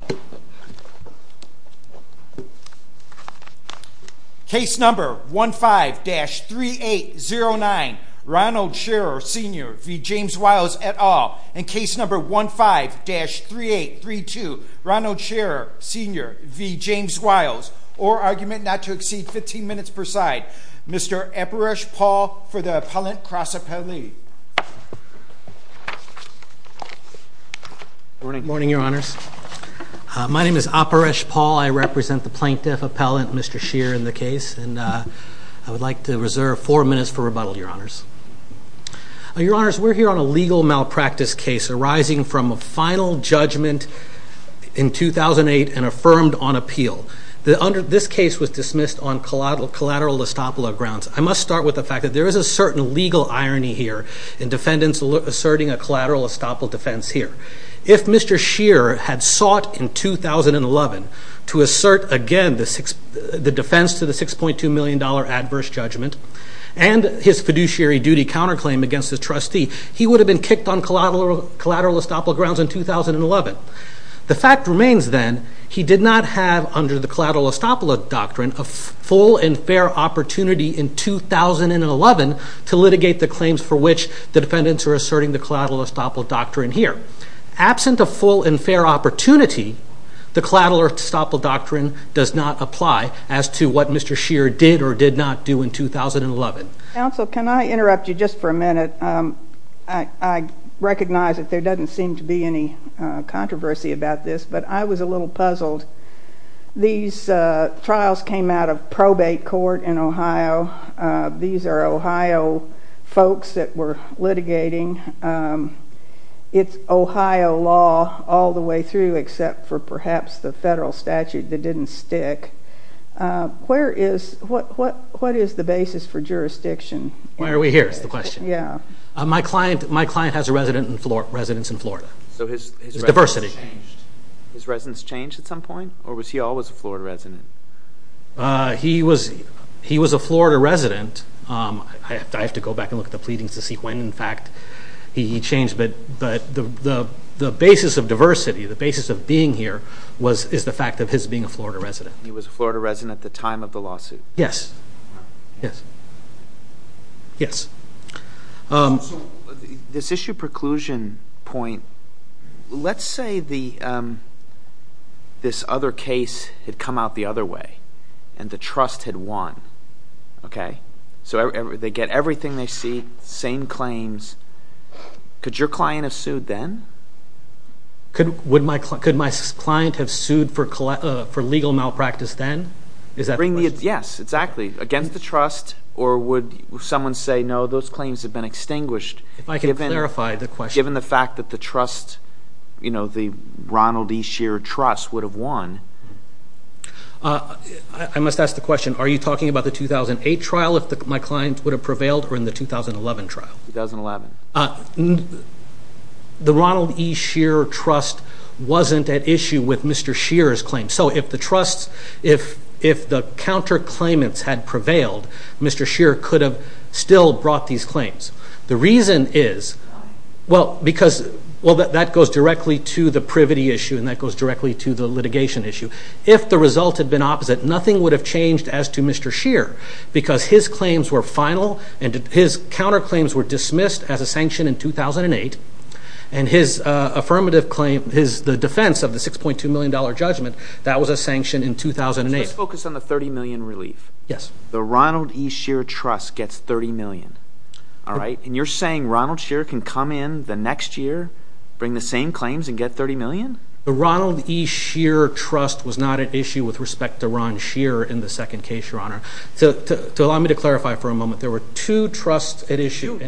at all, and case number 15-3832, Ronald Scherer Sr v. James Wiles, or argument not to exceed 15 minutes per side, Mr. Epirush Paul for the Appellant Cross Appellee. Good morning, Your Honors. My name is Epirush Paul. I represent the Plaintiff Appellant, Mr. Scherer in the case, and I would like to reserve four minutes for rebuttal, Your Honors. Your Honors, we're here on a legal malpractice case arising from a final judgment in 2008 and affirmed on appeal. This case was dismissed on collateral estoppel grounds. I must start with the fact that there is a certain legal irony here in defendants asserting a collateral estoppel defense here. If Mr. Scherer had sought in 2011 to assert again the defense to the $6.2 million adverse judgment and his fiduciary duty counterclaim against his trustee, he would have been kicked on collateral estoppel grounds in 2011. The fact remains, then, he did not have, under the collateral estoppel doctrine, a full and fair opportunity in 2011 to litigate the claims for which the defendants are asserting the collateral estoppel doctrine here. Absent a full and fair opportunity, the collateral estoppel doctrine does not apply as to what Mr. Scherer did or did not do in 2011. Counsel, can I interrupt you just for a minute? I recognize that there doesn't seem to be any controversy about this, but I was a little puzzled. These trials came out of probate court in Ohio. These are Ohio folks that were litigating. It's Ohio law all the way through, except for perhaps the federal statute that didn't stick. What is the basis for jurisdiction? Why are we here is the question. My client has a residence in Florida. His residence changed at some point, or was he always a Florida resident? He was a Florida resident. I have to go back and look at the pleadings to see when, in fact, he changed. The basis of diversity, the basis of being here, is the fact of his being a Florida resident. He was a Florida resident at the time of the lawsuit? Yes. This issue preclusion point, let's say this other case had come out the other way and the trust had won. They get everything they seek, same claims. Could your client have sued then? Could my client have sued for legal malpractice then? Is that the question? Yes, exactly. Against the trust, or would someone say, no, those claims have been extinguished? If I could clarify the question. Given the fact that the trust, the Ronald E. Scheer Trust, would have won. I must ask the question, are you talking about the 2008 trial, if my client would have prevailed, or in the 2011 trial? 2011. The Ronald E. Scheer Trust wasn't at issue with Mr. Scheer's claims. So if the trust, if the counterclaimants had prevailed, Mr. Scheer could have still brought these claims. The reason is, well, because that goes directly to the privity issue and that goes directly to the litigation issue. If the result had been opposite, nothing would have changed as to Mr. Scheer. Because his claims were final and his counterclaims were dismissed as a sanction in 2008. And his affirmative claim, the defense of the $6.2 million judgment, that was a sanction in 2008. Let's focus on the $30 million relief. Yes. The Ronald E. Scheer Trust gets $30 million. And you're saying Ronald Scheer can come in the next year, bring the same claims and get $30 million? The Ronald E. Scheer Trust was not at issue with respect to Ron Scheer in the second case, Your Honor. To allow me to clarify for a moment, there were two trusts at issue.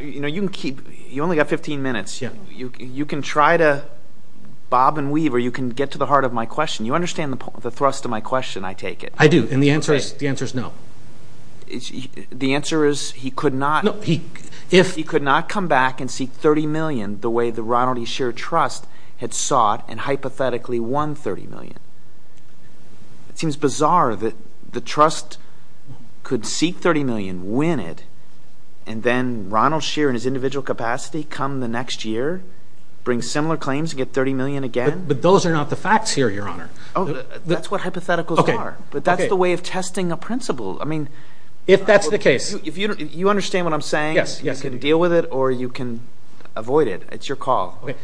You only got 15 minutes. You can try to bob and weave or you can get to the heart of my question. You understand the thrust of my question, I take it. I do, and the answer is no. The answer is he could not come back and seek $30 million the way the Ronald E. Scheer Trust had sought and hypothetically won $30 million. It seems bizarre that the trust could seek $30 million, win it, and then Ronald Scheer in his individual capacity come the next year, bring similar claims and get $30 million again? But those are not the facts here, Your Honor. That's what hypotheticals are. But that's the way of testing a principle. If that's the case. You understand what I'm saying? Yes. You can deal with it or you can avoid it. It's your call. Okay.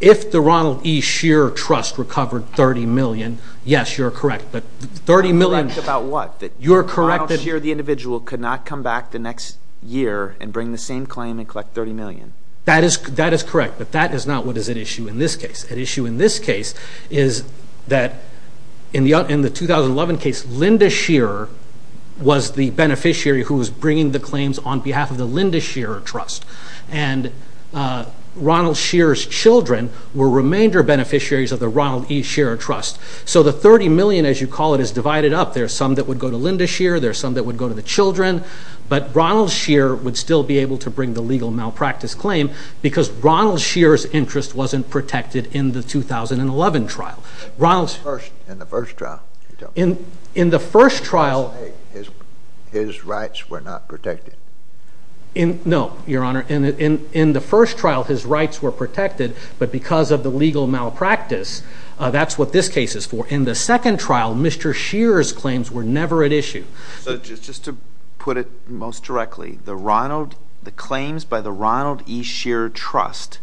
If the Ronald E. Scheer Trust recovered $30 million, yes, you're correct, but $30 million – You're correct about what? You're correct that – Ronald Scheer, the individual, could not come back the next year and bring the same claim and collect $30 million. That is correct, but that is not what is at issue in this case. At issue in this case is that in the 2011 case, Linda Scheer was the beneficiary who was bringing the claims on behalf of the Linda Scheer Trust. And Ronald Scheer's children were remainder beneficiaries of the Ronald E. Scheer Trust. So the $30 million, as you call it, is divided up. There are some that would go to Linda Scheer. There are some that would go to the children. But Ronald Scheer would still be able to bring the legal malpractice claim because Ronald Scheer's interest wasn't protected in the 2011 trial. In the first trial? In the first trial – His rights were not protected? No, Your Honor. In the first trial, his rights were protected, but because of the legal malpractice, that's what this case is for. In the second trial, Mr. Scheer's claims were never at issue. So just to put it most directly, the claims by the Ronald E. Scheer Trust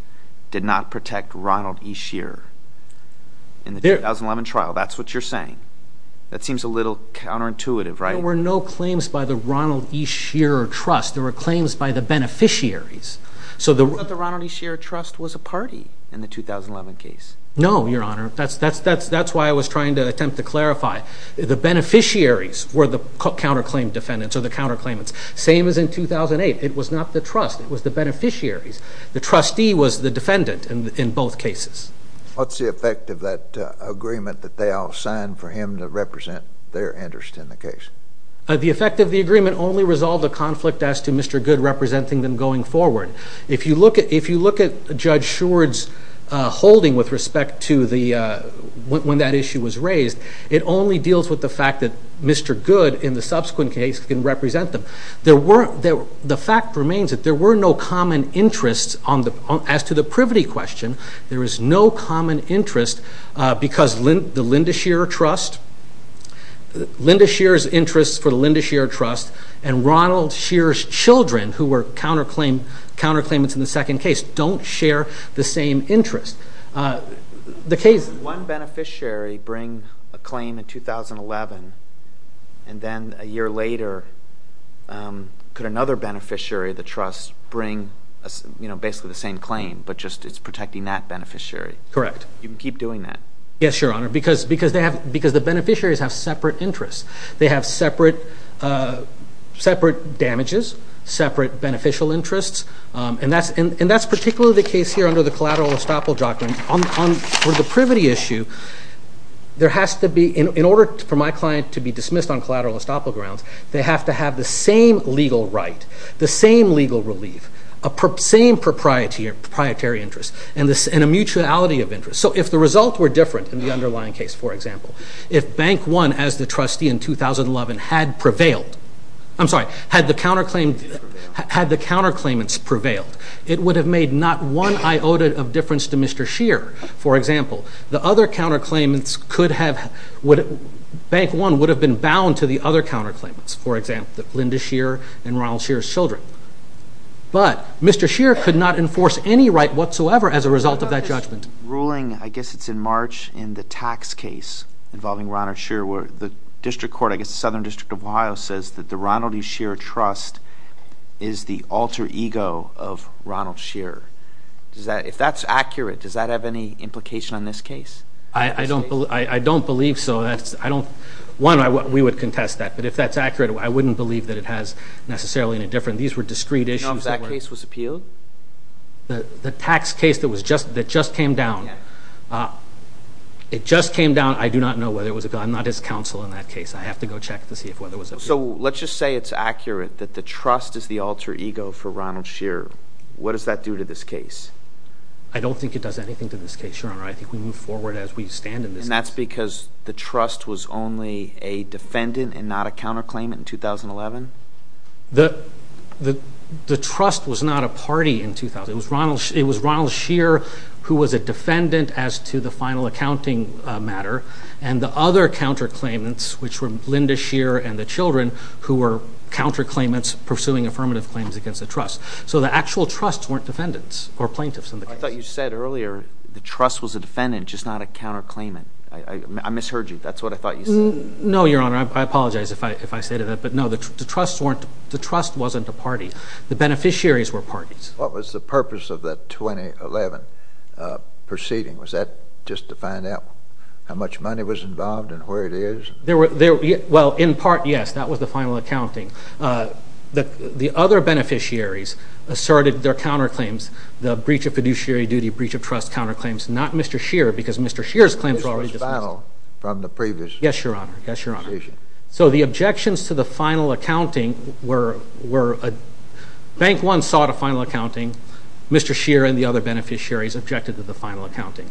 did not protect Ronald E. Scheer in the 2011 trial? That's what you're saying? That seems a little counterintuitive, right? There were no claims by the Ronald E. Scheer Trust. There were claims by the beneficiaries. But the Ronald E. Scheer Trust was a party in the 2011 case. No, Your Honor. That's why I was trying to attempt to clarify. The beneficiaries were the counterclaim defendants or the counterclaimants. Same as in 2008. It was not the trust. It was the beneficiaries. The trustee was the defendant in both cases. What's the effect of that agreement that they all signed for him to represent their interest in the case? The effect of the agreement only resolved the conflict as to Mr. Goode representing them going forward. If you look at Judge Scheward's holding with respect to when that issue was raised, it only deals with the fact that Mr. Goode, in the subsequent case, can represent them. The fact remains that there were no common interests as to the privity question. There is no common interest because the Linda Scheer Trust, Linda Scheer's interest for the Linda Scheer Trust, and Ronald Scheer's children, who were counterclaimants in the second case, don't share the same interest. One beneficiary bring a claim in 2011, and then a year later could another beneficiary of the trust bring basically the same claim, but just it's protecting that beneficiary. Correct. You can keep doing that. Yes, Your Honor, because the beneficiaries have separate interests. They have separate damages, separate beneficial interests, and that's particularly the case here under the collateral estoppel doctrine. On the privity issue, in order for my client to be dismissed on collateral estoppel grounds, they have to have the same legal right, the same legal relief, the same proprietary interest, and a mutuality of interest. So if the results were different in the underlying case, for example, if Bank One, as the trustee in 2011, had prevailed, I'm sorry, had the counterclaimants prevailed, it would have made not one iota of difference to Mr. Scheer, for example. The other counterclaimants could have, Bank One would have been bound to the other counterclaimants. For example, Linda Scheer and Ronald Scheer's children. But Mr. Scheer could not enforce any right whatsoever as a result of that judgment. I guess it's in March in the tax case involving Ronald Scheer where the district court, I guess the Southern District of Ohio, says that the Ronald E. Scheer Trust is the alter ego of Ronald Scheer. If that's accurate, does that have any implication on this case? I don't believe so. One, we would contest that. But if that's accurate, I wouldn't believe that it has necessarily any difference. These were discrete issues. Do you know if that case was appealed? The tax case that just came down, it just came down. I do not know whether it was appealed. I'm not his counsel in that case. I have to go check to see whether it was appealed. So let's just say it's accurate that the trust is the alter ego for Ronald Scheer. What does that do to this case? I don't think it does anything to this case, Your Honor. I think we move forward as we stand in this case. And that's because the trust was only a defendant and not a counterclaimant in 2011? The trust was not a party in 2011. It was Ronald Scheer who was a defendant as to the final accounting matter, and the other counterclaimants, which were Linda Scheer and the children, who were counterclaimants pursuing affirmative claims against the trust. So the actual trusts weren't defendants or plaintiffs in the case. I thought you said earlier the trust was a defendant, just not a counterclaimant. I misheard you. That's what I thought you said. No, Your Honor. I apologize if I say that. But, no, the trust wasn't a party. The beneficiaries were parties. What was the purpose of that 2011 proceeding? Was that just to find out how much money was involved and where it is? Well, in part, yes, that was the final accounting. The other beneficiaries asserted their counterclaims, the breach of fiduciary duty, breach of trust counterclaims, not Mr. Scheer, because Mr. Scheer's claims were already dismissed. This was final from the previous? Yes, Your Honor. Yes, Your Honor. So the objections to the final accounting were Bank One sought a final accounting. Mr. Scheer and the other beneficiaries objected to the final accounting.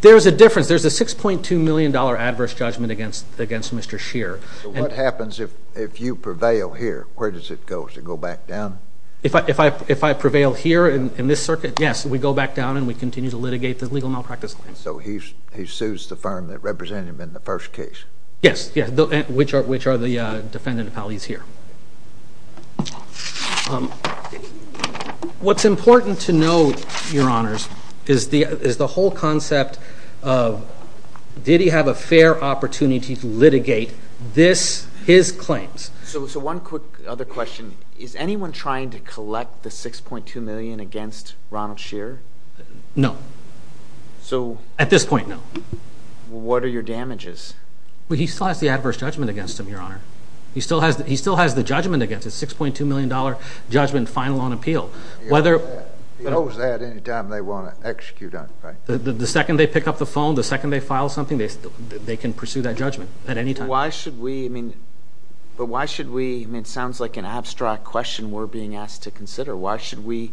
There's a difference. There's a $6.2 million adverse judgment against Mr. Scheer. So what happens if you prevail here? Where does it go? Does it go back down? If I prevail here in this circuit, yes, we go back down, and we continue to litigate the legal malpractice claims. So he sues the firm that represented him in the first case? Yes, which are the defendant appellees here. What's important to note, Your Honors, is the whole concept of did he have a fair opportunity to litigate his claims. So one quick other question. Is anyone trying to collect the $6.2 million against Ronald Scheer? No. At this point, no. What are your damages? He still has the adverse judgment against him, Your Honor. He still has the judgment against him, $6.2 million judgment final on appeal. He owes that any time they want to execute on him, right? The second they pick up the phone, the second they file something, they can pursue that judgment at any time. But why should we? It sounds like an abstract question we're being asked to consider. Why should we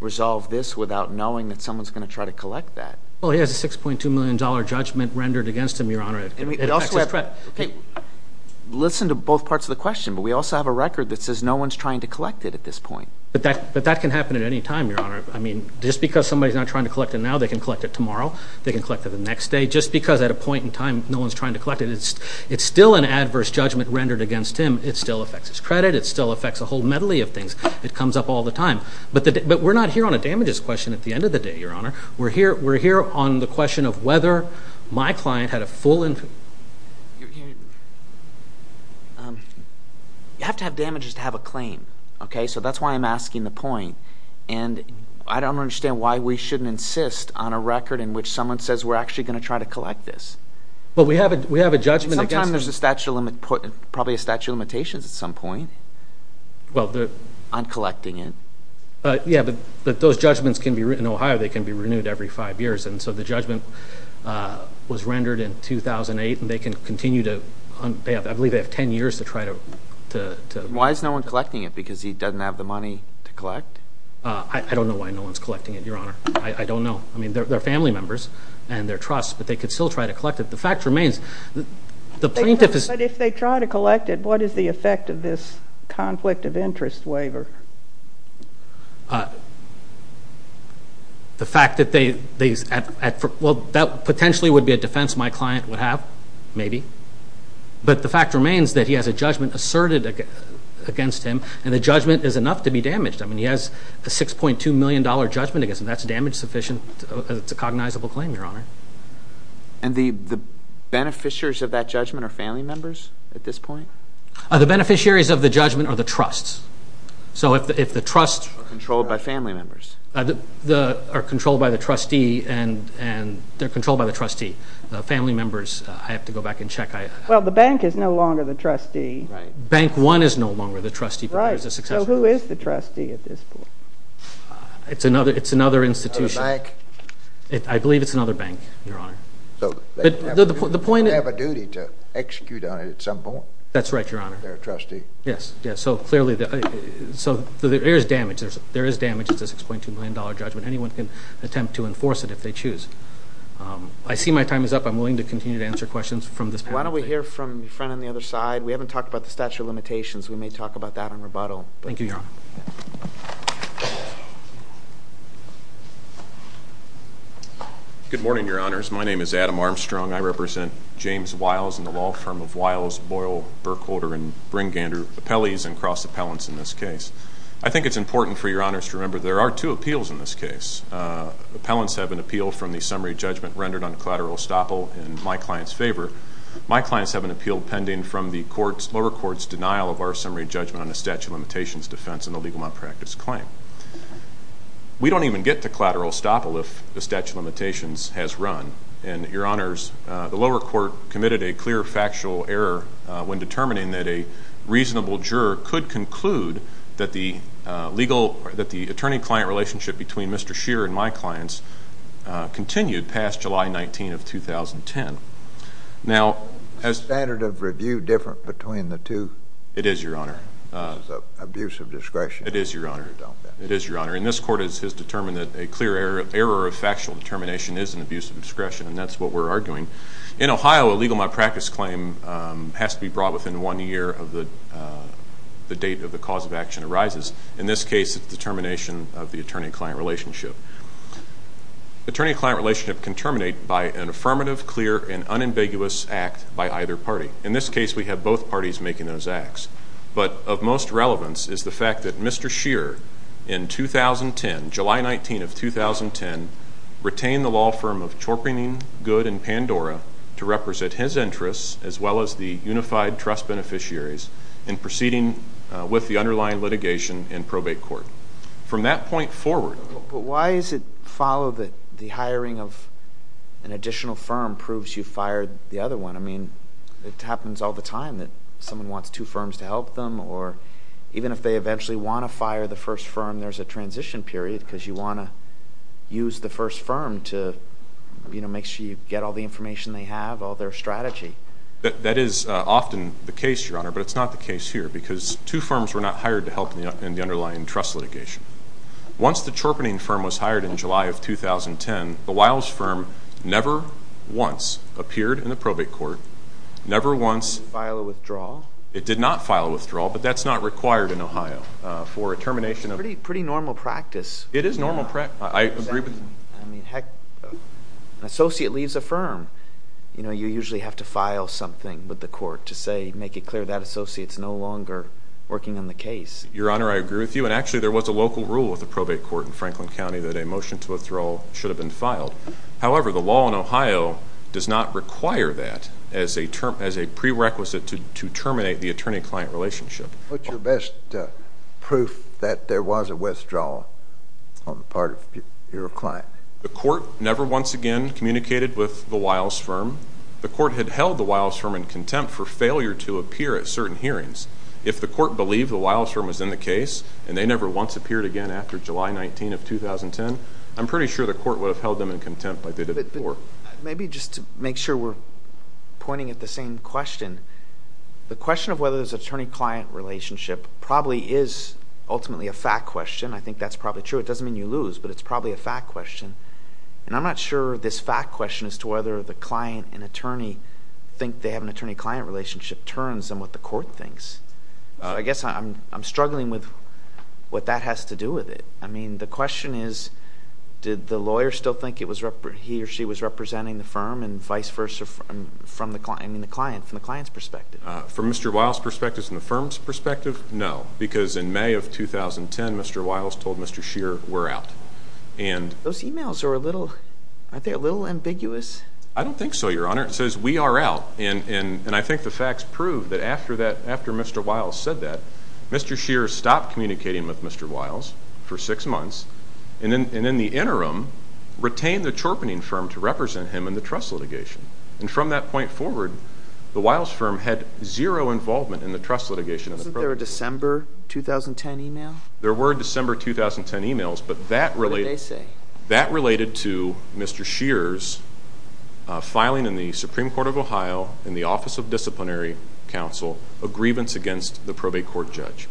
resolve this without knowing that someone's going to try to collect that? Well, he has a $6.2 million judgment rendered against him, Your Honor. It affects his credit. Listen to both parts of the question, but we also have a record that says no one's trying to collect it at this point. But that can happen at any time, Your Honor. I mean, just because somebody's not trying to collect it now, they can collect it tomorrow. They can collect it the next day. Just because at a point in time no one's trying to collect it, it's still an adverse judgment rendered against him. It still affects his credit. It still affects a whole medley of things. It comes up all the time. But we're not here on a damages question at the end of the day, Your Honor. We're here on the question of whether my client had a full and— You have to have damages to have a claim. So that's why I'm asking the point. And I don't understand why we shouldn't insist on a record in which someone says, we're actually going to try to collect this. But we have a judgment against him. Sometime there's a statute of limitations at some point on collecting it. Yeah, but those judgments in Ohio, they can be renewed every five years. And so the judgment was rendered in 2008, and they can continue to— I believe they have 10 years to try to— Why is no one collecting it? Because he doesn't have the money to collect? I don't know why no one's collecting it, Your Honor. I don't know. I mean, they're family members and they're trust, but they could still try to collect it. The fact remains, the plaintiff is— But if they try to collect it, what is the effect of this conflict of interest waiver? The fact that they—well, that potentially would be a defense my client would have, maybe. But the fact remains that he has a judgment asserted against him, and the judgment is enough to be damaged. I mean, he has a $6.2 million judgment against him. That's damage sufficient. It's a cognizable claim, Your Honor. And the beneficiaries of that judgment are family members at this point? The beneficiaries of the judgment are the trusts. So if the trusts— Are controlled by family members. Are controlled by the trustee, and they're controlled by the trustee. The family members, I have to go back and check. Well, the bank is no longer the trustee. Bank One is no longer the trustee, but there's a successor. Right. So who is the trustee at this point? It's another institution. Another bank? I believe it's another bank, Your Honor. So they have a duty to execute on it at some point. That's right, Your Honor. They're a trustee. Yes, so clearly there is damage. There is damage to the $6.2 million judgment. Anyone can attempt to enforce it if they choose. I see my time is up. I'm willing to continue to answer questions from this panel. Why don't we hear from the friend on the other side? We haven't talked about the statute of limitations. We may talk about that in rebuttal. Thank you, Your Honor. Good morning, Your Honors. My name is Adam Armstrong. I represent James Wiles and the law firm of Wiles, Boyle, Burkholder, and Bringander Appellees and Cross Appellants in this case. I think it's important for Your Honors to remember there are two appeals in this case. Appellants have an appeal from the summary judgment rendered on collateral estoppel in my client's favor. My clients have an appeal pending from the lower court's denial of our summary judgment on the statute of limitations defense and the legal malpractice claim. We don't even get to collateral estoppel if the statute of limitations has run. And, Your Honors, the lower court committed a clear factual error when determining that a reasonable juror could conclude that the attorney-client relationship between Mr. Shearer and my clients continued past July 19 of 2010. Is the standard of review different between the two? It is, Your Honor. This is an abuse of discretion. It is, Your Honor. It is, Your Honor. And this court has determined that a clear error of factual determination is an abuse of discretion, and that's what we're arguing. In Ohio, a legal malpractice claim has to be brought within one year of the date of the cause of action arises. In this case, it's the termination of the attorney-client relationship. Attorney-client relationship can terminate by an affirmative, clear, and unambiguous act by either party. In this case, we have both parties making those acts. But of most relevance is the fact that Mr. Shearer, in 2010, July 19 of 2010, retained the law firm of Chorpingen, Good, and Pandora to represent his interests as well as the unified trust beneficiaries in proceeding with the underlying litigation in probate court. From that point forward. But why is it followed that the hiring of an additional firm proves you fired the other one? I mean, it happens all the time that someone wants two firms to help them, or even if they eventually want to fire the first firm, there's a transition period because you want to use the first firm to make sure you get all the information they have, all their strategy. That is often the case, Your Honor, but it's not the case here because two firms were not hired to help in the underlying trust litigation. Once the Chorpingen firm was hired in July of 2010, the Wiles firm never once appeared in the probate court, never once. Did it file a withdrawal? It did not file a withdrawal, but that's not required in Ohio for a termination of... It is normal practice. I agree with you. I mean, heck, an associate leaves a firm. You know, you usually have to file something with the court to say, make it clear that associate's no longer working on the case. Your Honor, I agree with you, and actually there was a local rule with the probate court in Franklin County that a motion to withdrawal should have been filed. However, the law in Ohio does not require that as a prerequisite to terminate the attorney-client relationship. What's your best proof that there was a withdrawal on the part of your client? The court never once again communicated with the Wiles firm. The court had held the Wiles firm in contempt for failure to appear at certain hearings. If the court believed the Wiles firm was in the case and they never once appeared again after July 19 of 2010, I'm pretty sure the court would have held them in contempt like they did before. Maybe just to make sure we're pointing at the same question, the question of whether there's attorney-client relationship probably is ultimately a fact question. I think that's probably true. It doesn't mean you lose, but it's probably a fact question. I'm not sure this fact question as to whether the client and attorney think they have an attorney-client relationship turns on what the court thinks. I guess I'm struggling with what that has to do with it. I mean, the question is, did the lawyer still think he or she was representing the firm and vice versa from the client? From Mr. Wiles' perspective and the firm's perspective, no. Because in May of 2010, Mr. Wiles told Mr. Scheer, we're out. Those e-mails are a little ambiguous. I don't think so, Your Honor. It says, we are out, and I think the facts prove that after Mr. Wiles said that, Mr. Scheer stopped communicating with Mr. Wiles for six months and in the interim retained the chorponing firm to represent him in the trust litigation. And from that point forward, the Wiles firm had zero involvement in the trust litigation. Wasn't there a December 2010 e-mail? There were December 2010 e-mails, but that related to Mr. Scheer's filing in the Supreme Court of Ohio, in the Office of Disciplinary Counsel, a grievance against the probate court judge.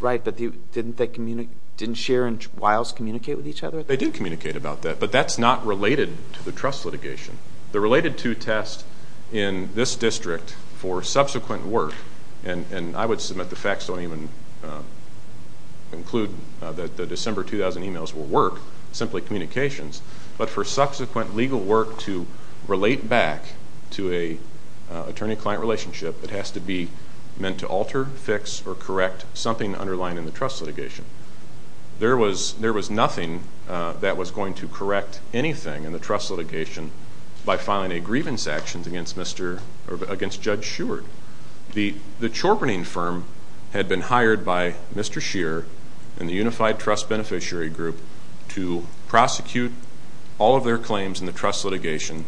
Right, but didn't Scheer and Wiles communicate with each other? They did communicate about that, but that's not related to the trust litigation. The related to test in this district for subsequent work, and I would submit the facts don't even include that the December 2010 e-mails were work, simply communications, but for subsequent legal work to relate back to an attorney-client relationship, it has to be meant to alter, fix, or correct something underlying in the trust litigation. There was nothing that was going to correct anything in the trust litigation by filing a grievance action against Judge Sheward. The chorponing firm had been hired by Mr. Scheer and the Unified Trust Beneficiary Group to prosecute all of their claims in the trust litigation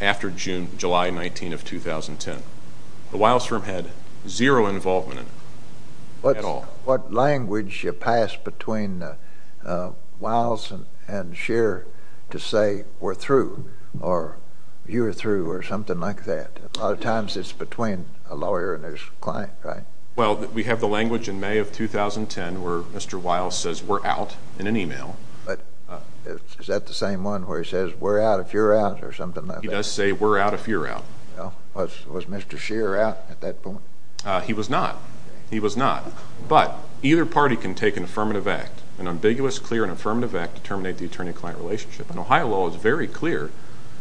after July 19 of 2010. The Wiles firm had zero involvement in it at all. What language did you pass between Wiles and Scheer to say, we're through, or you're through, or something like that? A lot of times it's between a lawyer and his client, right? Well, we have the language in May of 2010 where Mr. Wiles says, we're out, in an e-mail. Is that the same one where he says, we're out if you're out, or something like that? He does say, we're out if you're out. Was Mr. Scheer out at that point? He was not. He was not. But either party can take an affirmative act, an ambiguous, clear, and affirmative act to terminate the attorney-client relationship. And Ohio law is very clear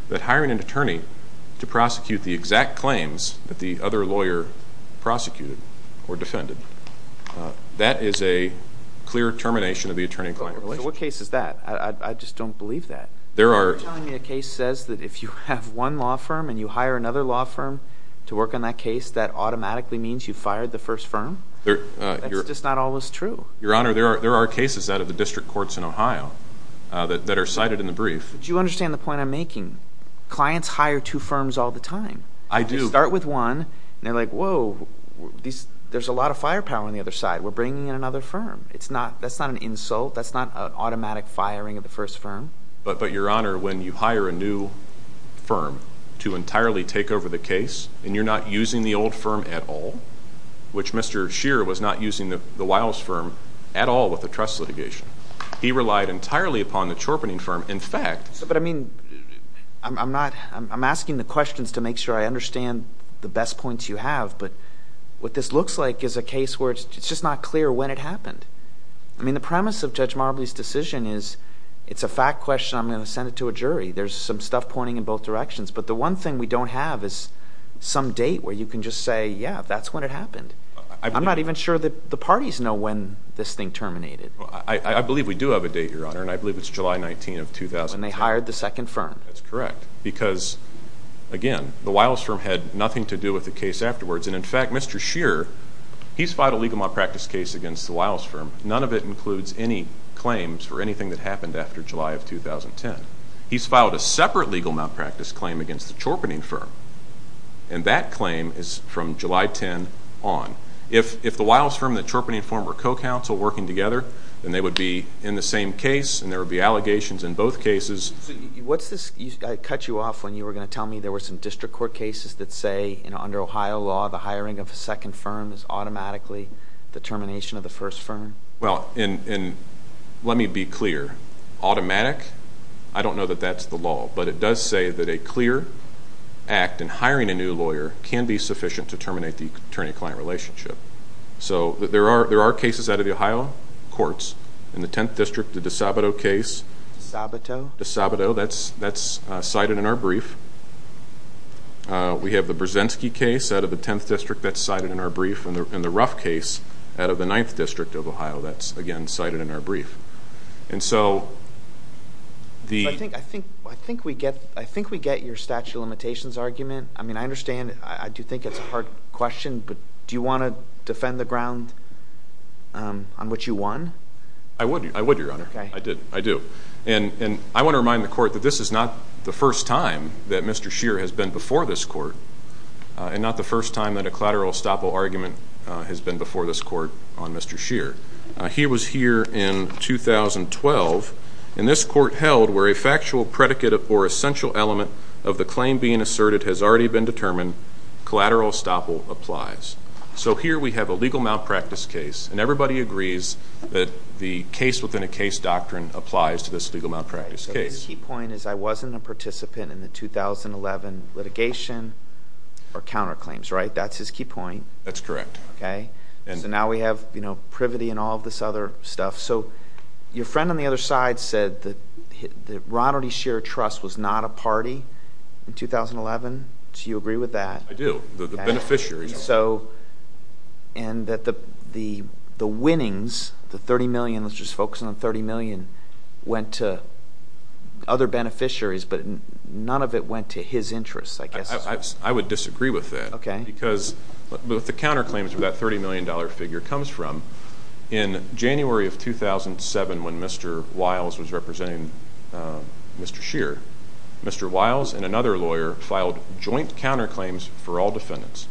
that hiring an attorney to prosecute the exact claims that the other lawyer prosecuted or defended, that is a clear termination of the attorney-client relationship. What case is that? I just don't believe that. You're telling me a case says that if you have one law firm and you hire another law firm to work on that case, that automatically means you fired the first firm? That's just not always true. Your Honor, there are cases out of the district courts in Ohio that are cited in the brief. Do you understand the point I'm making? Clients hire two firms all the time. I do. They start with one, and they're like, whoa, there's a lot of firepower on the other side. We're bringing in another firm. That's not an insult. That's not an automatic firing of the first firm. But, Your Honor, when you hire a new firm to entirely take over the case and you're not using the old firm at all, which Mr. Shearer was not using the Wiles firm at all with the trust litigation. He relied entirely upon the Chorpening firm. In fact, But, I mean, I'm asking the questions to make sure I understand the best points you have, but what this looks like is a case where it's just not clear when it happened. I mean, the premise of Judge Marbley's decision is it's a fact question. I'm going to send it to a jury. There's some stuff pointing in both directions. But the one thing we don't have is some date where you can just say, yeah, that's when it happened. I'm not even sure that the parties know when this thing terminated. I believe we do have a date, Your Honor, and I believe it's July 19 of 2010. When they hired the second firm. That's correct because, again, the Wiles firm had nothing to do with the case afterwards. And, in fact, Mr. Shearer, he's filed a legal malpractice case against the Wiles firm. None of it includes any claims for anything that happened after July of 2010. He's filed a separate legal malpractice claim against the Chorpening firm, and that claim is from July 10 on. If the Wiles firm and the Chorpening firm were co-counsel working together, then they would be in the same case and there would be allegations in both cases. What's this? I cut you off when you were going to tell me there were some district court cases that say, under Ohio law, the hiring of a second firm is automatically the termination of the first firm. Well, let me be clear. Automatic? I don't know that that's the law, but it does say that a clear act in hiring a new lawyer can be sufficient to terminate the attorney-client relationship. So there are cases out of the Ohio courts. In the 10th District, the DeSabato case. DeSabato? DeSabato. That's cited in our brief. We have the Brzezinski case out of the 10th District. That's cited in our brief. And the Ruff case out of the 9th District of Ohio. That's, again, cited in our brief. I think we get your statute of limitations argument. I mean, I understand. I do think it's a hard question, but do you want to defend the ground on which you won? I would, Your Honor. I do. And I want to remind the Court that this is not the first time that Mr. Scheer has been before this Court and not the first time that a collateral estoppel argument has been before this Court on Mr. Scheer. He was here in 2012, and this Court held where a factual predicate or essential element of the claim being asserted has already been determined, collateral estoppel applies. So here we have a legal malpractice case, and everybody agrees that the case-within-a-case doctrine applies to this legal malpractice case. So his key point is I wasn't a participant in the 2011 litigation or counterclaims, right? That's his key point. That's correct. Okay? So now we have privity and all of this other stuff. So your friend on the other side said that Roderick Scheer Trust was not a party in 2011. Do you agree with that? I do. The beneficiaries are. And that the winnings, the $30 million, let's just focus on the $30 million, went to other beneficiaries, but none of it went to his interests, I guess. I would disagree with that. Okay. Because what the counterclaims for that $30 million figure comes from, in January of 2007 when Mr. Wiles was representing Mr. Scheer, Mr. Wiles and another lawyer filed joint counterclaims for all defendants.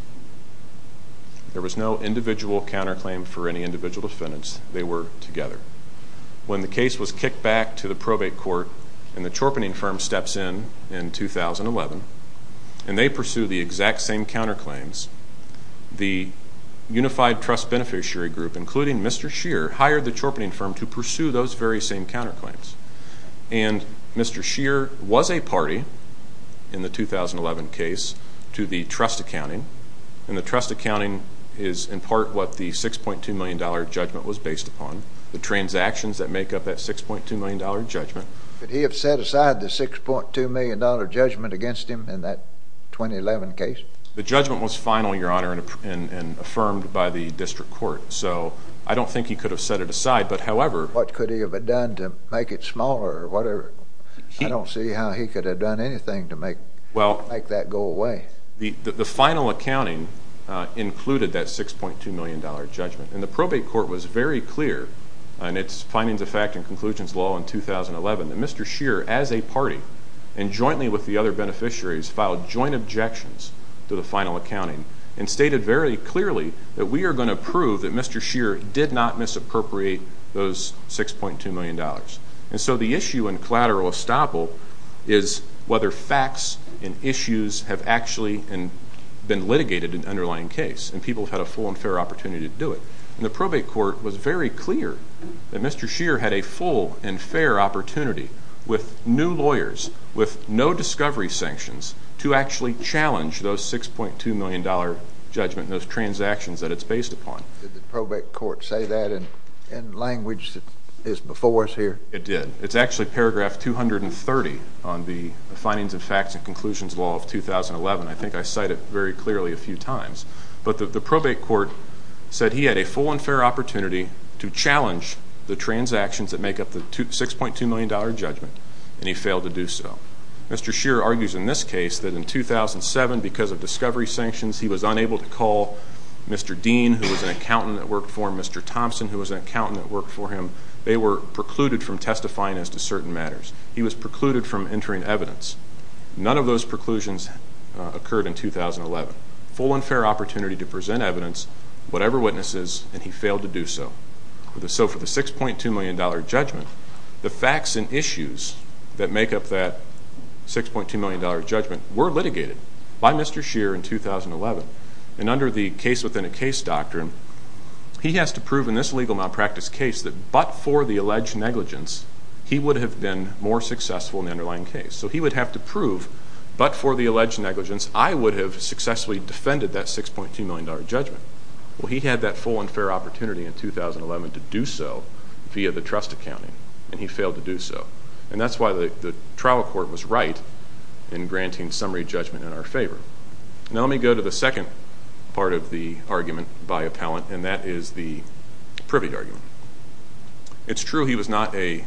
There was no individual counterclaim for any individual defendants. They were together. When the case was kicked back to the probate court and the chorping firm steps in in 2011 and they pursue the exact same counterclaims, the Unified Trust Beneficiary Group, including Mr. Scheer, hired the chorping firm to pursue those very same counterclaims. And Mr. Scheer was a party in the 2011 case to the trust accounting. And the trust accounting is in part what the $6.2 million judgment was based upon, the transactions that make up that $6.2 million judgment. Could he have set aside the $6.2 million judgment against him in that 2011 case? The judgment was final, Your Honor, and affirmed by the district court. So I don't think he could have set it aside. But, however— What could he have done to make it smaller or whatever? I don't see how he could have done anything to make that go away. The final accounting included that $6.2 million judgment. And the probate court was very clear in its findings of fact and conclusions law in 2011 that Mr. Scheer, as a party, and jointly with the other beneficiaries, filed joint objections to the final accounting and stated very clearly that we are going to prove that Mr. Scheer did not misappropriate those $6.2 million. And so the issue in collateral estoppel is whether facts and issues have actually been litigated in the underlying case and people have had a full and fair opportunity to do it. And the probate court was very clear that Mr. Scheer had a full and fair opportunity with new lawyers, with no discovery sanctions, to actually challenge those $6.2 million judgment, those transactions that it's based upon. Did the probate court say that in language that is before us here? It did. It's actually paragraph 230 on the findings of fact and conclusions law of 2011. I think I cite it very clearly a few times. But the probate court said he had a full and fair opportunity to challenge the transactions that make up the $6.2 million judgment, and he failed to do so. Mr. Scheer argues in this case that in 2007, because of discovery sanctions, he was unable to call Mr. Dean, who was an accountant that worked for him, Mr. Thompson, who was an accountant that worked for him. They were precluded from testifying as to certain matters. He was precluded from entering evidence. None of those preclusions occurred in 2011. He had a full and fair opportunity to present evidence, whatever witnesses, and he failed to do so. So for the $6.2 million judgment, the facts and issues that make up that $6.2 million judgment were litigated by Mr. Scheer in 2011. And under the case-within-a-case doctrine, he has to prove in this legal malpractice case that but for the alleged negligence, he would have been more successful in the underlying case. So he would have to prove, but for the alleged negligence, I would have successfully defended that $6.2 million judgment. Well, he had that full and fair opportunity in 2011 to do so via the trust accounting, and he failed to do so. And that's why the trial court was right in granting summary judgment in our favor. Now let me go to the second part of the argument by appellant, and that is the Privy argument. It's true he was not a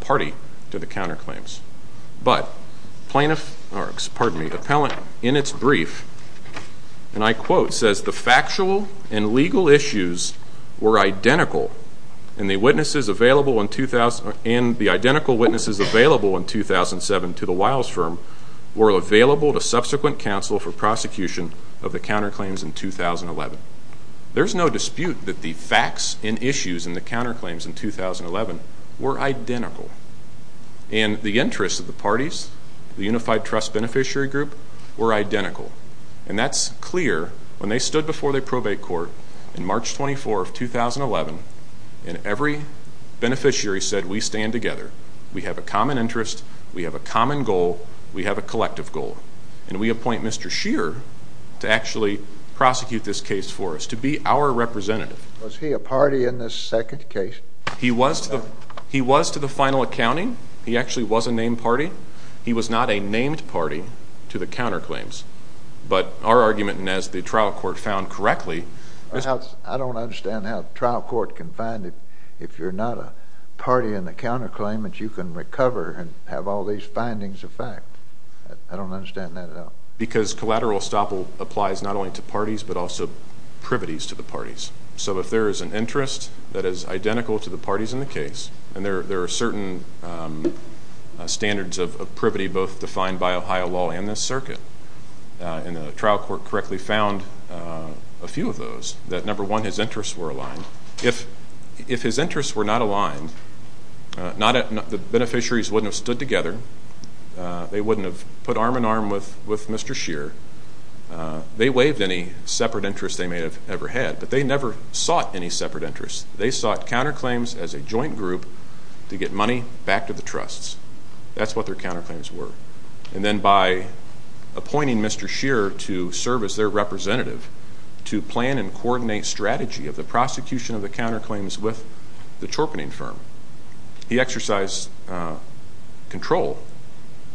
party to the counterclaims. But the appellant in its brief, and I quote, says, The factual and legal issues were identical, and the identical witnesses available in 2007 to the Wiles firm were available to subsequent counsel for prosecution of the counterclaims in 2011. There's no dispute that the facts and issues in the counterclaims in 2011 were identical. And the interests of the parties, the unified trust beneficiary group, were identical. And that's clear. When they stood before the probate court in March 24, 2011, and every beneficiary said, We stand together. We have a common interest. We have a common goal. We have a collective goal. And we appoint Mr. Scheer to actually prosecute this case for us, to be our representative. Was he a party in this second case? He was to the final accounting. He actually was a named party. He was not a named party to the counterclaims. But our argument, and as the trial court found correctly, I don't understand how a trial court can find if you're not a party in the counterclaim that you can recover and have all these findings of fact. I don't understand that at all. Because collateral estoppel applies not only to parties but also privities to the parties. So if there is an interest that is identical to the parties in the case and there are certain standards of privity both defined by Ohio law and this circuit, and the trial court correctly found a few of those, that, number one, his interests were aligned. If his interests were not aligned, the beneficiaries wouldn't have stood together. They wouldn't have put arm in arm with Mr. Scheer. They waived any separate interest they may have ever had. But they never sought any separate interest. They sought counterclaims as a joint group to get money back to the trusts. That's what their counterclaims were. And then by appointing Mr. Scheer to serve as their representative to plan and coordinate strategy of the prosecution of the counterclaims with the torpening firm, he exercised control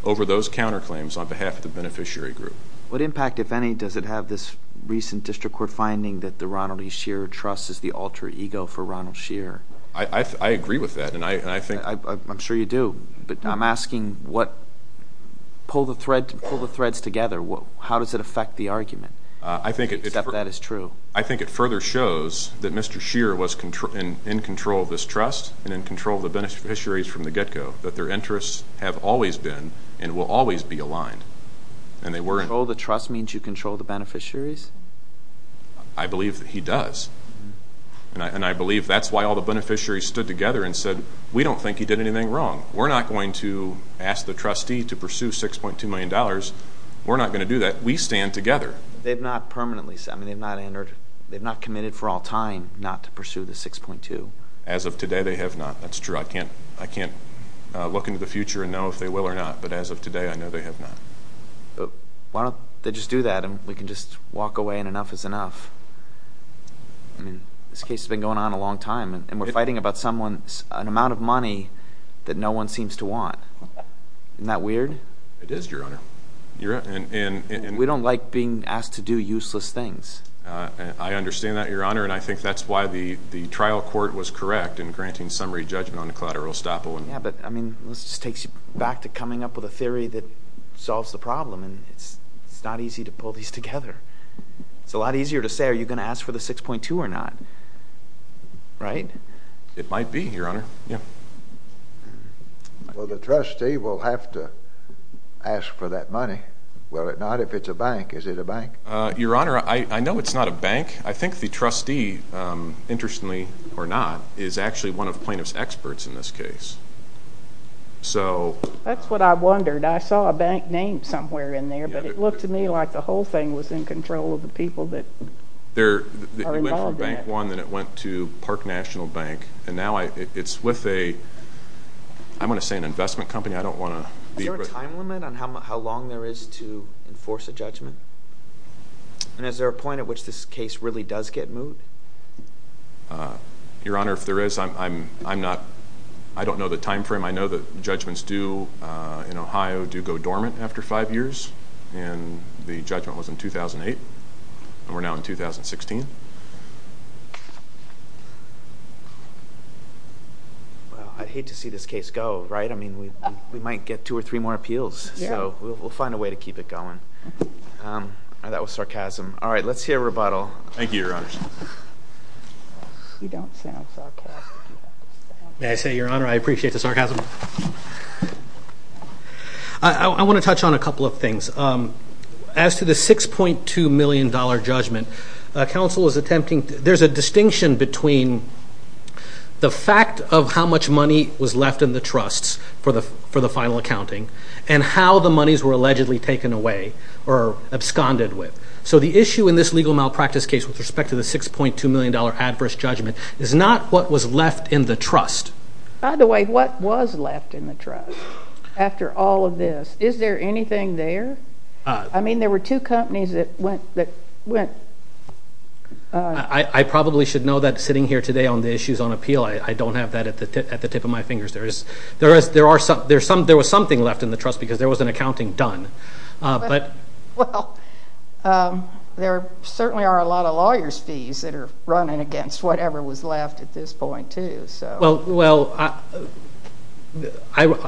over those counterclaims on behalf of the beneficiary group. What impact, if any, does it have this recent district court finding that the Ronald E. Scheer Trust is the alter ego for Ronald Scheer? I agree with that. I'm sure you do. But I'm asking, pull the threads together. How does it affect the argument, except that it's true? I think it further shows that Mr. Scheer was in control of this trust and in control of the beneficiaries from the get-go, that their interests have always been and will always be aligned. Control of the trust means you control the beneficiaries? I believe that he does. And I believe that's why all the beneficiaries stood together and said, we don't think he did anything wrong. We're not going to ask the trustee to pursue $6.2 million. We're not going to do that. We stand together. They've not committed for all time not to pursue the $6.2 million. As of today, they have not. That's true. I can't look into the future and know if they will or not. But as of today, I know they have not. Why don't they just do that and we can just walk away and enough is enough? This case has been going on a long time, and we're fighting about an amount of money that no one seems to want. Isn't that weird? It is, Your Honor. We don't like being asked to do useless things. I understand that, Your Honor, and I think that's why the trial court was correct in granting summary judgment on the collateral estoppel. Yeah, but, I mean, this takes you back to coming up with a theory that solves the problem, and it's not easy to pull these together. It's a lot easier to say, are you going to ask for the $6.2 or not, right? It might be, Your Honor. Well, the trustee will have to ask for that money. Will it not if it's a bank? Is it a bank? Your Honor, I know it's not a bank. I think the trustee, interestingly or not, is actually one of the plaintiff's experts in this case. That's what I wondered. I saw a bank name somewhere in there, but it looked to me like the whole thing was in control of the people that are involved in it. It went from Bank One, then it went to Park National Bank, and now it's with a, I'm going to say an investment company. Is there a time limit on how long there is to enforce a judgment? And is there a point at which this case really does get moved? Your Honor, if there is, I don't know the time frame. I know that judgments in Ohio do go dormant after five years, and the judgment was in 2008, and we're now in 2016. I'd hate to see this case go, right? I mean, we might get two or three more appeals, so we'll find a way to keep it going. That was sarcasm. All right. Let's hear a rebuttal. Thank you, Your Honor. You don't sound sarcastic. May I say, Your Honor, I appreciate the sarcasm. I want to touch on a couple of things. As to the $6.2 million judgment, there's a distinction between the fact of how much money was left in the trusts for the final accounting and how the monies were allegedly taken away or absconded with. So the issue in this legal malpractice case with respect to the $6.2 million adverse judgment is not what was left in the trust. By the way, what was left in the trust after all of this? Is there anything there? I mean, there were two companies that went... I probably should know that sitting here today on the issues on appeal. I don't have that at the tip of my fingers. There was something left in the trust because there was an accounting done. Well, there certainly are a lot of lawyers' fees that are running against whatever was left at this point too. Well,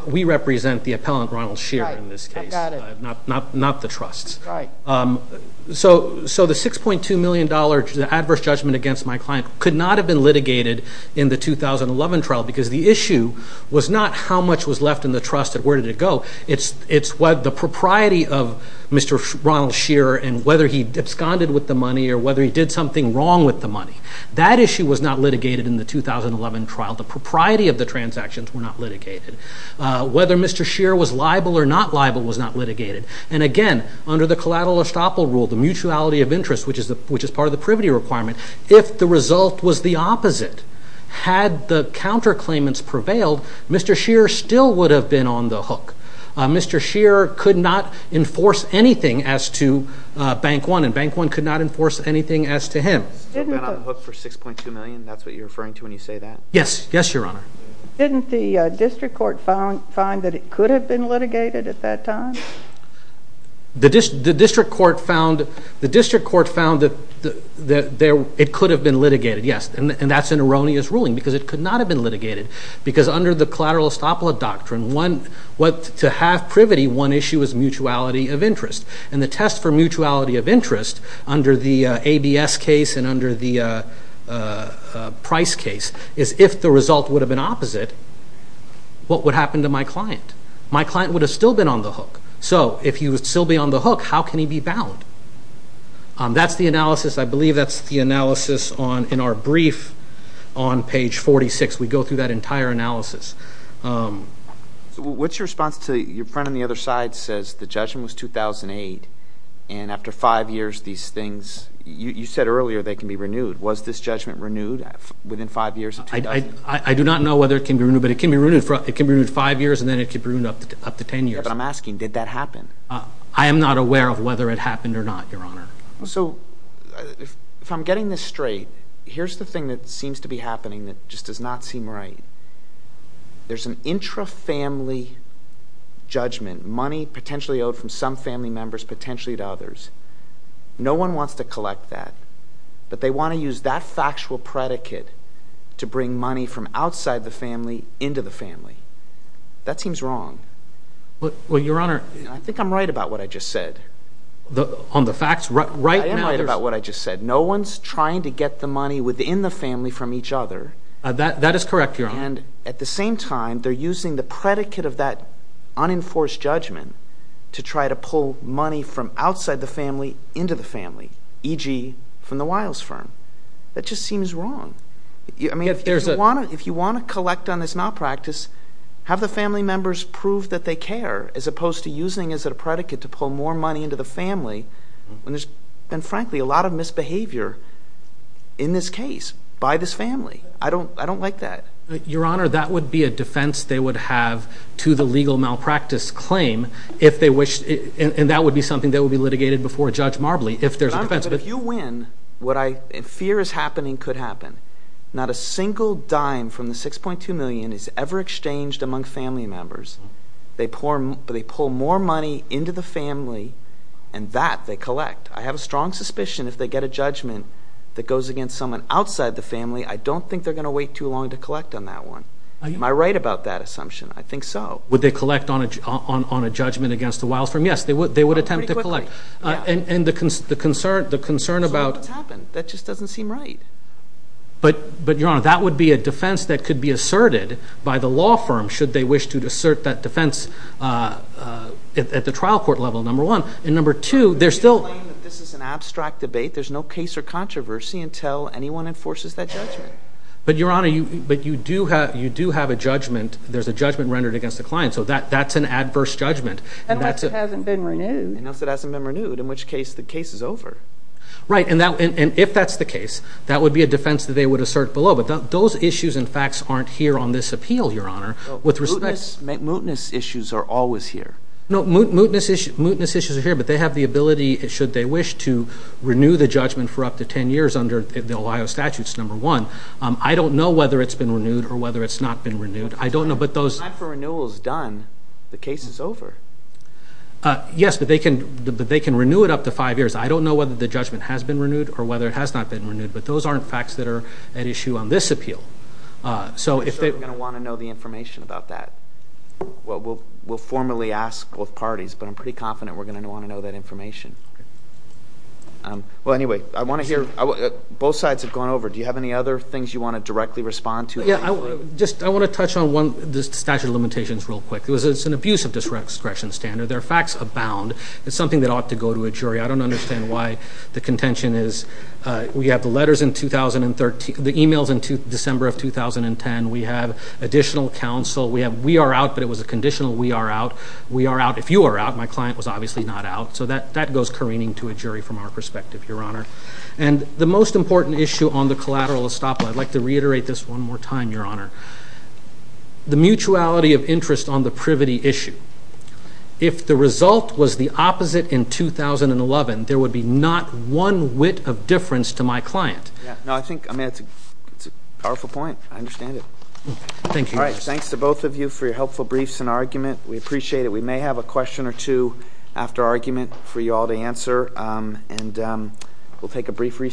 we represent the appellant, Ronald Scheer, in this case, not the trusts. So the $6.2 million adverse judgment against my client could not have been litigated in the 2011 trial because the issue was not how much was left in the trust and where did it go. It's the propriety of Mr. Ronald Scheer and whether he absconded with the money or whether he did something wrong with the money. That issue was not litigated in the 2011 trial. The propriety of the transactions were not litigated. Whether Mr. Scheer was liable or not liable was not litigated. And again, under the collateral estoppel rule, the mutuality of interest, had the counterclaimants prevailed, Mr. Scheer still would have been on the hook. Mr. Scheer could not enforce anything as to Bank One, and Bank One could not enforce anything as to him. Still been on the hook for $6.2 million? That's what you're referring to when you say that? Yes. Yes, Your Honor. Didn't the district court find that it could have been litigated at that time? The district court found that it could have been litigated, yes. And that's an erroneous ruling because it could not have been litigated because under the collateral estoppel doctrine, to have privity, one issue is mutuality of interest. And the test for mutuality of interest under the ABS case and under the Price case is if the result would have been opposite, what would happen to my client? My client would have still been on the hook. So if he would still be on the hook, how can he be bound? That's the analysis. I believe that's the analysis in our brief on page 46. We go through that entire analysis. What's your response to your friend on the other side who says the judgment was 2008 and after five years these things, you said earlier they can be renewed. Was this judgment renewed within five years? I do not know whether it can be renewed, but it can be renewed five years and then it can be renewed up to ten years. But I'm asking, did that happen? I am not aware of whether it happened or not, Your Honor. So if I'm getting this straight, here's the thing that seems to be happening that just does not seem right. There's an intra-family judgment, money potentially owed from some family members potentially to others. No one wants to collect that. But they want to use that factual predicate to bring money from outside the family into the family. That seems wrong. Well, Your Honor. I think I'm right about what I just said. On the facts? I am right about what I just said. No one's trying to get the money within the family from each other. That is correct, Your Honor. At the same time, they're using the predicate of that unenforced judgment to try to pull money from outside the family into the family, e.g. from the Wiles firm. That just seems wrong. If you want to collect on this malpractice, have the family members prove that they care as opposed to using it as a predicate to pull more money into the family when there's been, frankly, a lot of misbehavior in this case by this family. I don't like that. Your Honor, that would be a defense they would have to the legal malpractice claim if they wish, and that would be something that would be litigated before Judge Marbley if there's a defense. But if you win, what I fear is happening could happen. Not a single dime from the $6.2 million is ever exchanged among family members. They pull more money into the family, and that they collect. I have a strong suspicion if they get a judgment that goes against someone outside the family, I don't think they're going to wait too long to collect on that one. Am I right about that assumption? I think so. Would they collect on a judgment against the Wiles firm? Yes, they would attempt to collect. And the concern about— That just doesn't seem right. But, Your Honor, that would be a defense that could be asserted by the law firm should they wish to assert that defense at the trial court level, number one. And number two, there's still— They claim that this is an abstract debate. There's no case or controversy until anyone enforces that judgment. But, Your Honor, you do have a judgment. There's a judgment rendered against the client, so that's an adverse judgment. Unless it hasn't been renewed. Unless it hasn't been renewed, in which case the case is over. Right. And if that's the case, that would be a defense that they would assert below. But those issues and facts aren't here on this appeal, Your Honor. With respect— Mootness issues are always here. No, mootness issues are here, but they have the ability, should they wish, to renew the judgment for up to 10 years under the Ohio statutes, number one. I don't know whether it's been renewed or whether it's not been renewed. I don't know, but those— The time for renewal is done. The case is over. Yes, but they can renew it up to five years. I don't know whether the judgment has been renewed or whether it has not been renewed, but those aren't facts that are at issue on this appeal. I'm sure we're going to want to know the information about that. We'll formally ask both parties, but I'm pretty confident we're going to want to know that information. Okay. Well, anyway, I want to hear—both sides have gone over. Do you have any other things you want to directly respond to? Yeah, I want to touch on the statute of limitations real quick. It's an abuse of discretion standard. There are facts abound. It's something that ought to go to a jury. I don't understand why the contention is we have the letters in 2013—the e-mails in December of 2010. We have additional counsel. We are out, but it was a conditional we are out. We are out. If you are out, my client was obviously not out. So that goes careening to a jury from our perspective, Your Honor. And the most important issue on the collateral estoppel, I'd like to reiterate this one more time, Your Honor. The mutuality of interest on the privity issue. If the result was the opposite in 2011, there would be not one whit of difference to my client. Yeah. No, I think—I mean, it's a powerful point. I understand it. Thank you. All right. Thanks to both of you for your helpful briefs and argument. We appreciate it. We may have a question or two after argument for you all to answer, and we'll take a brief recess.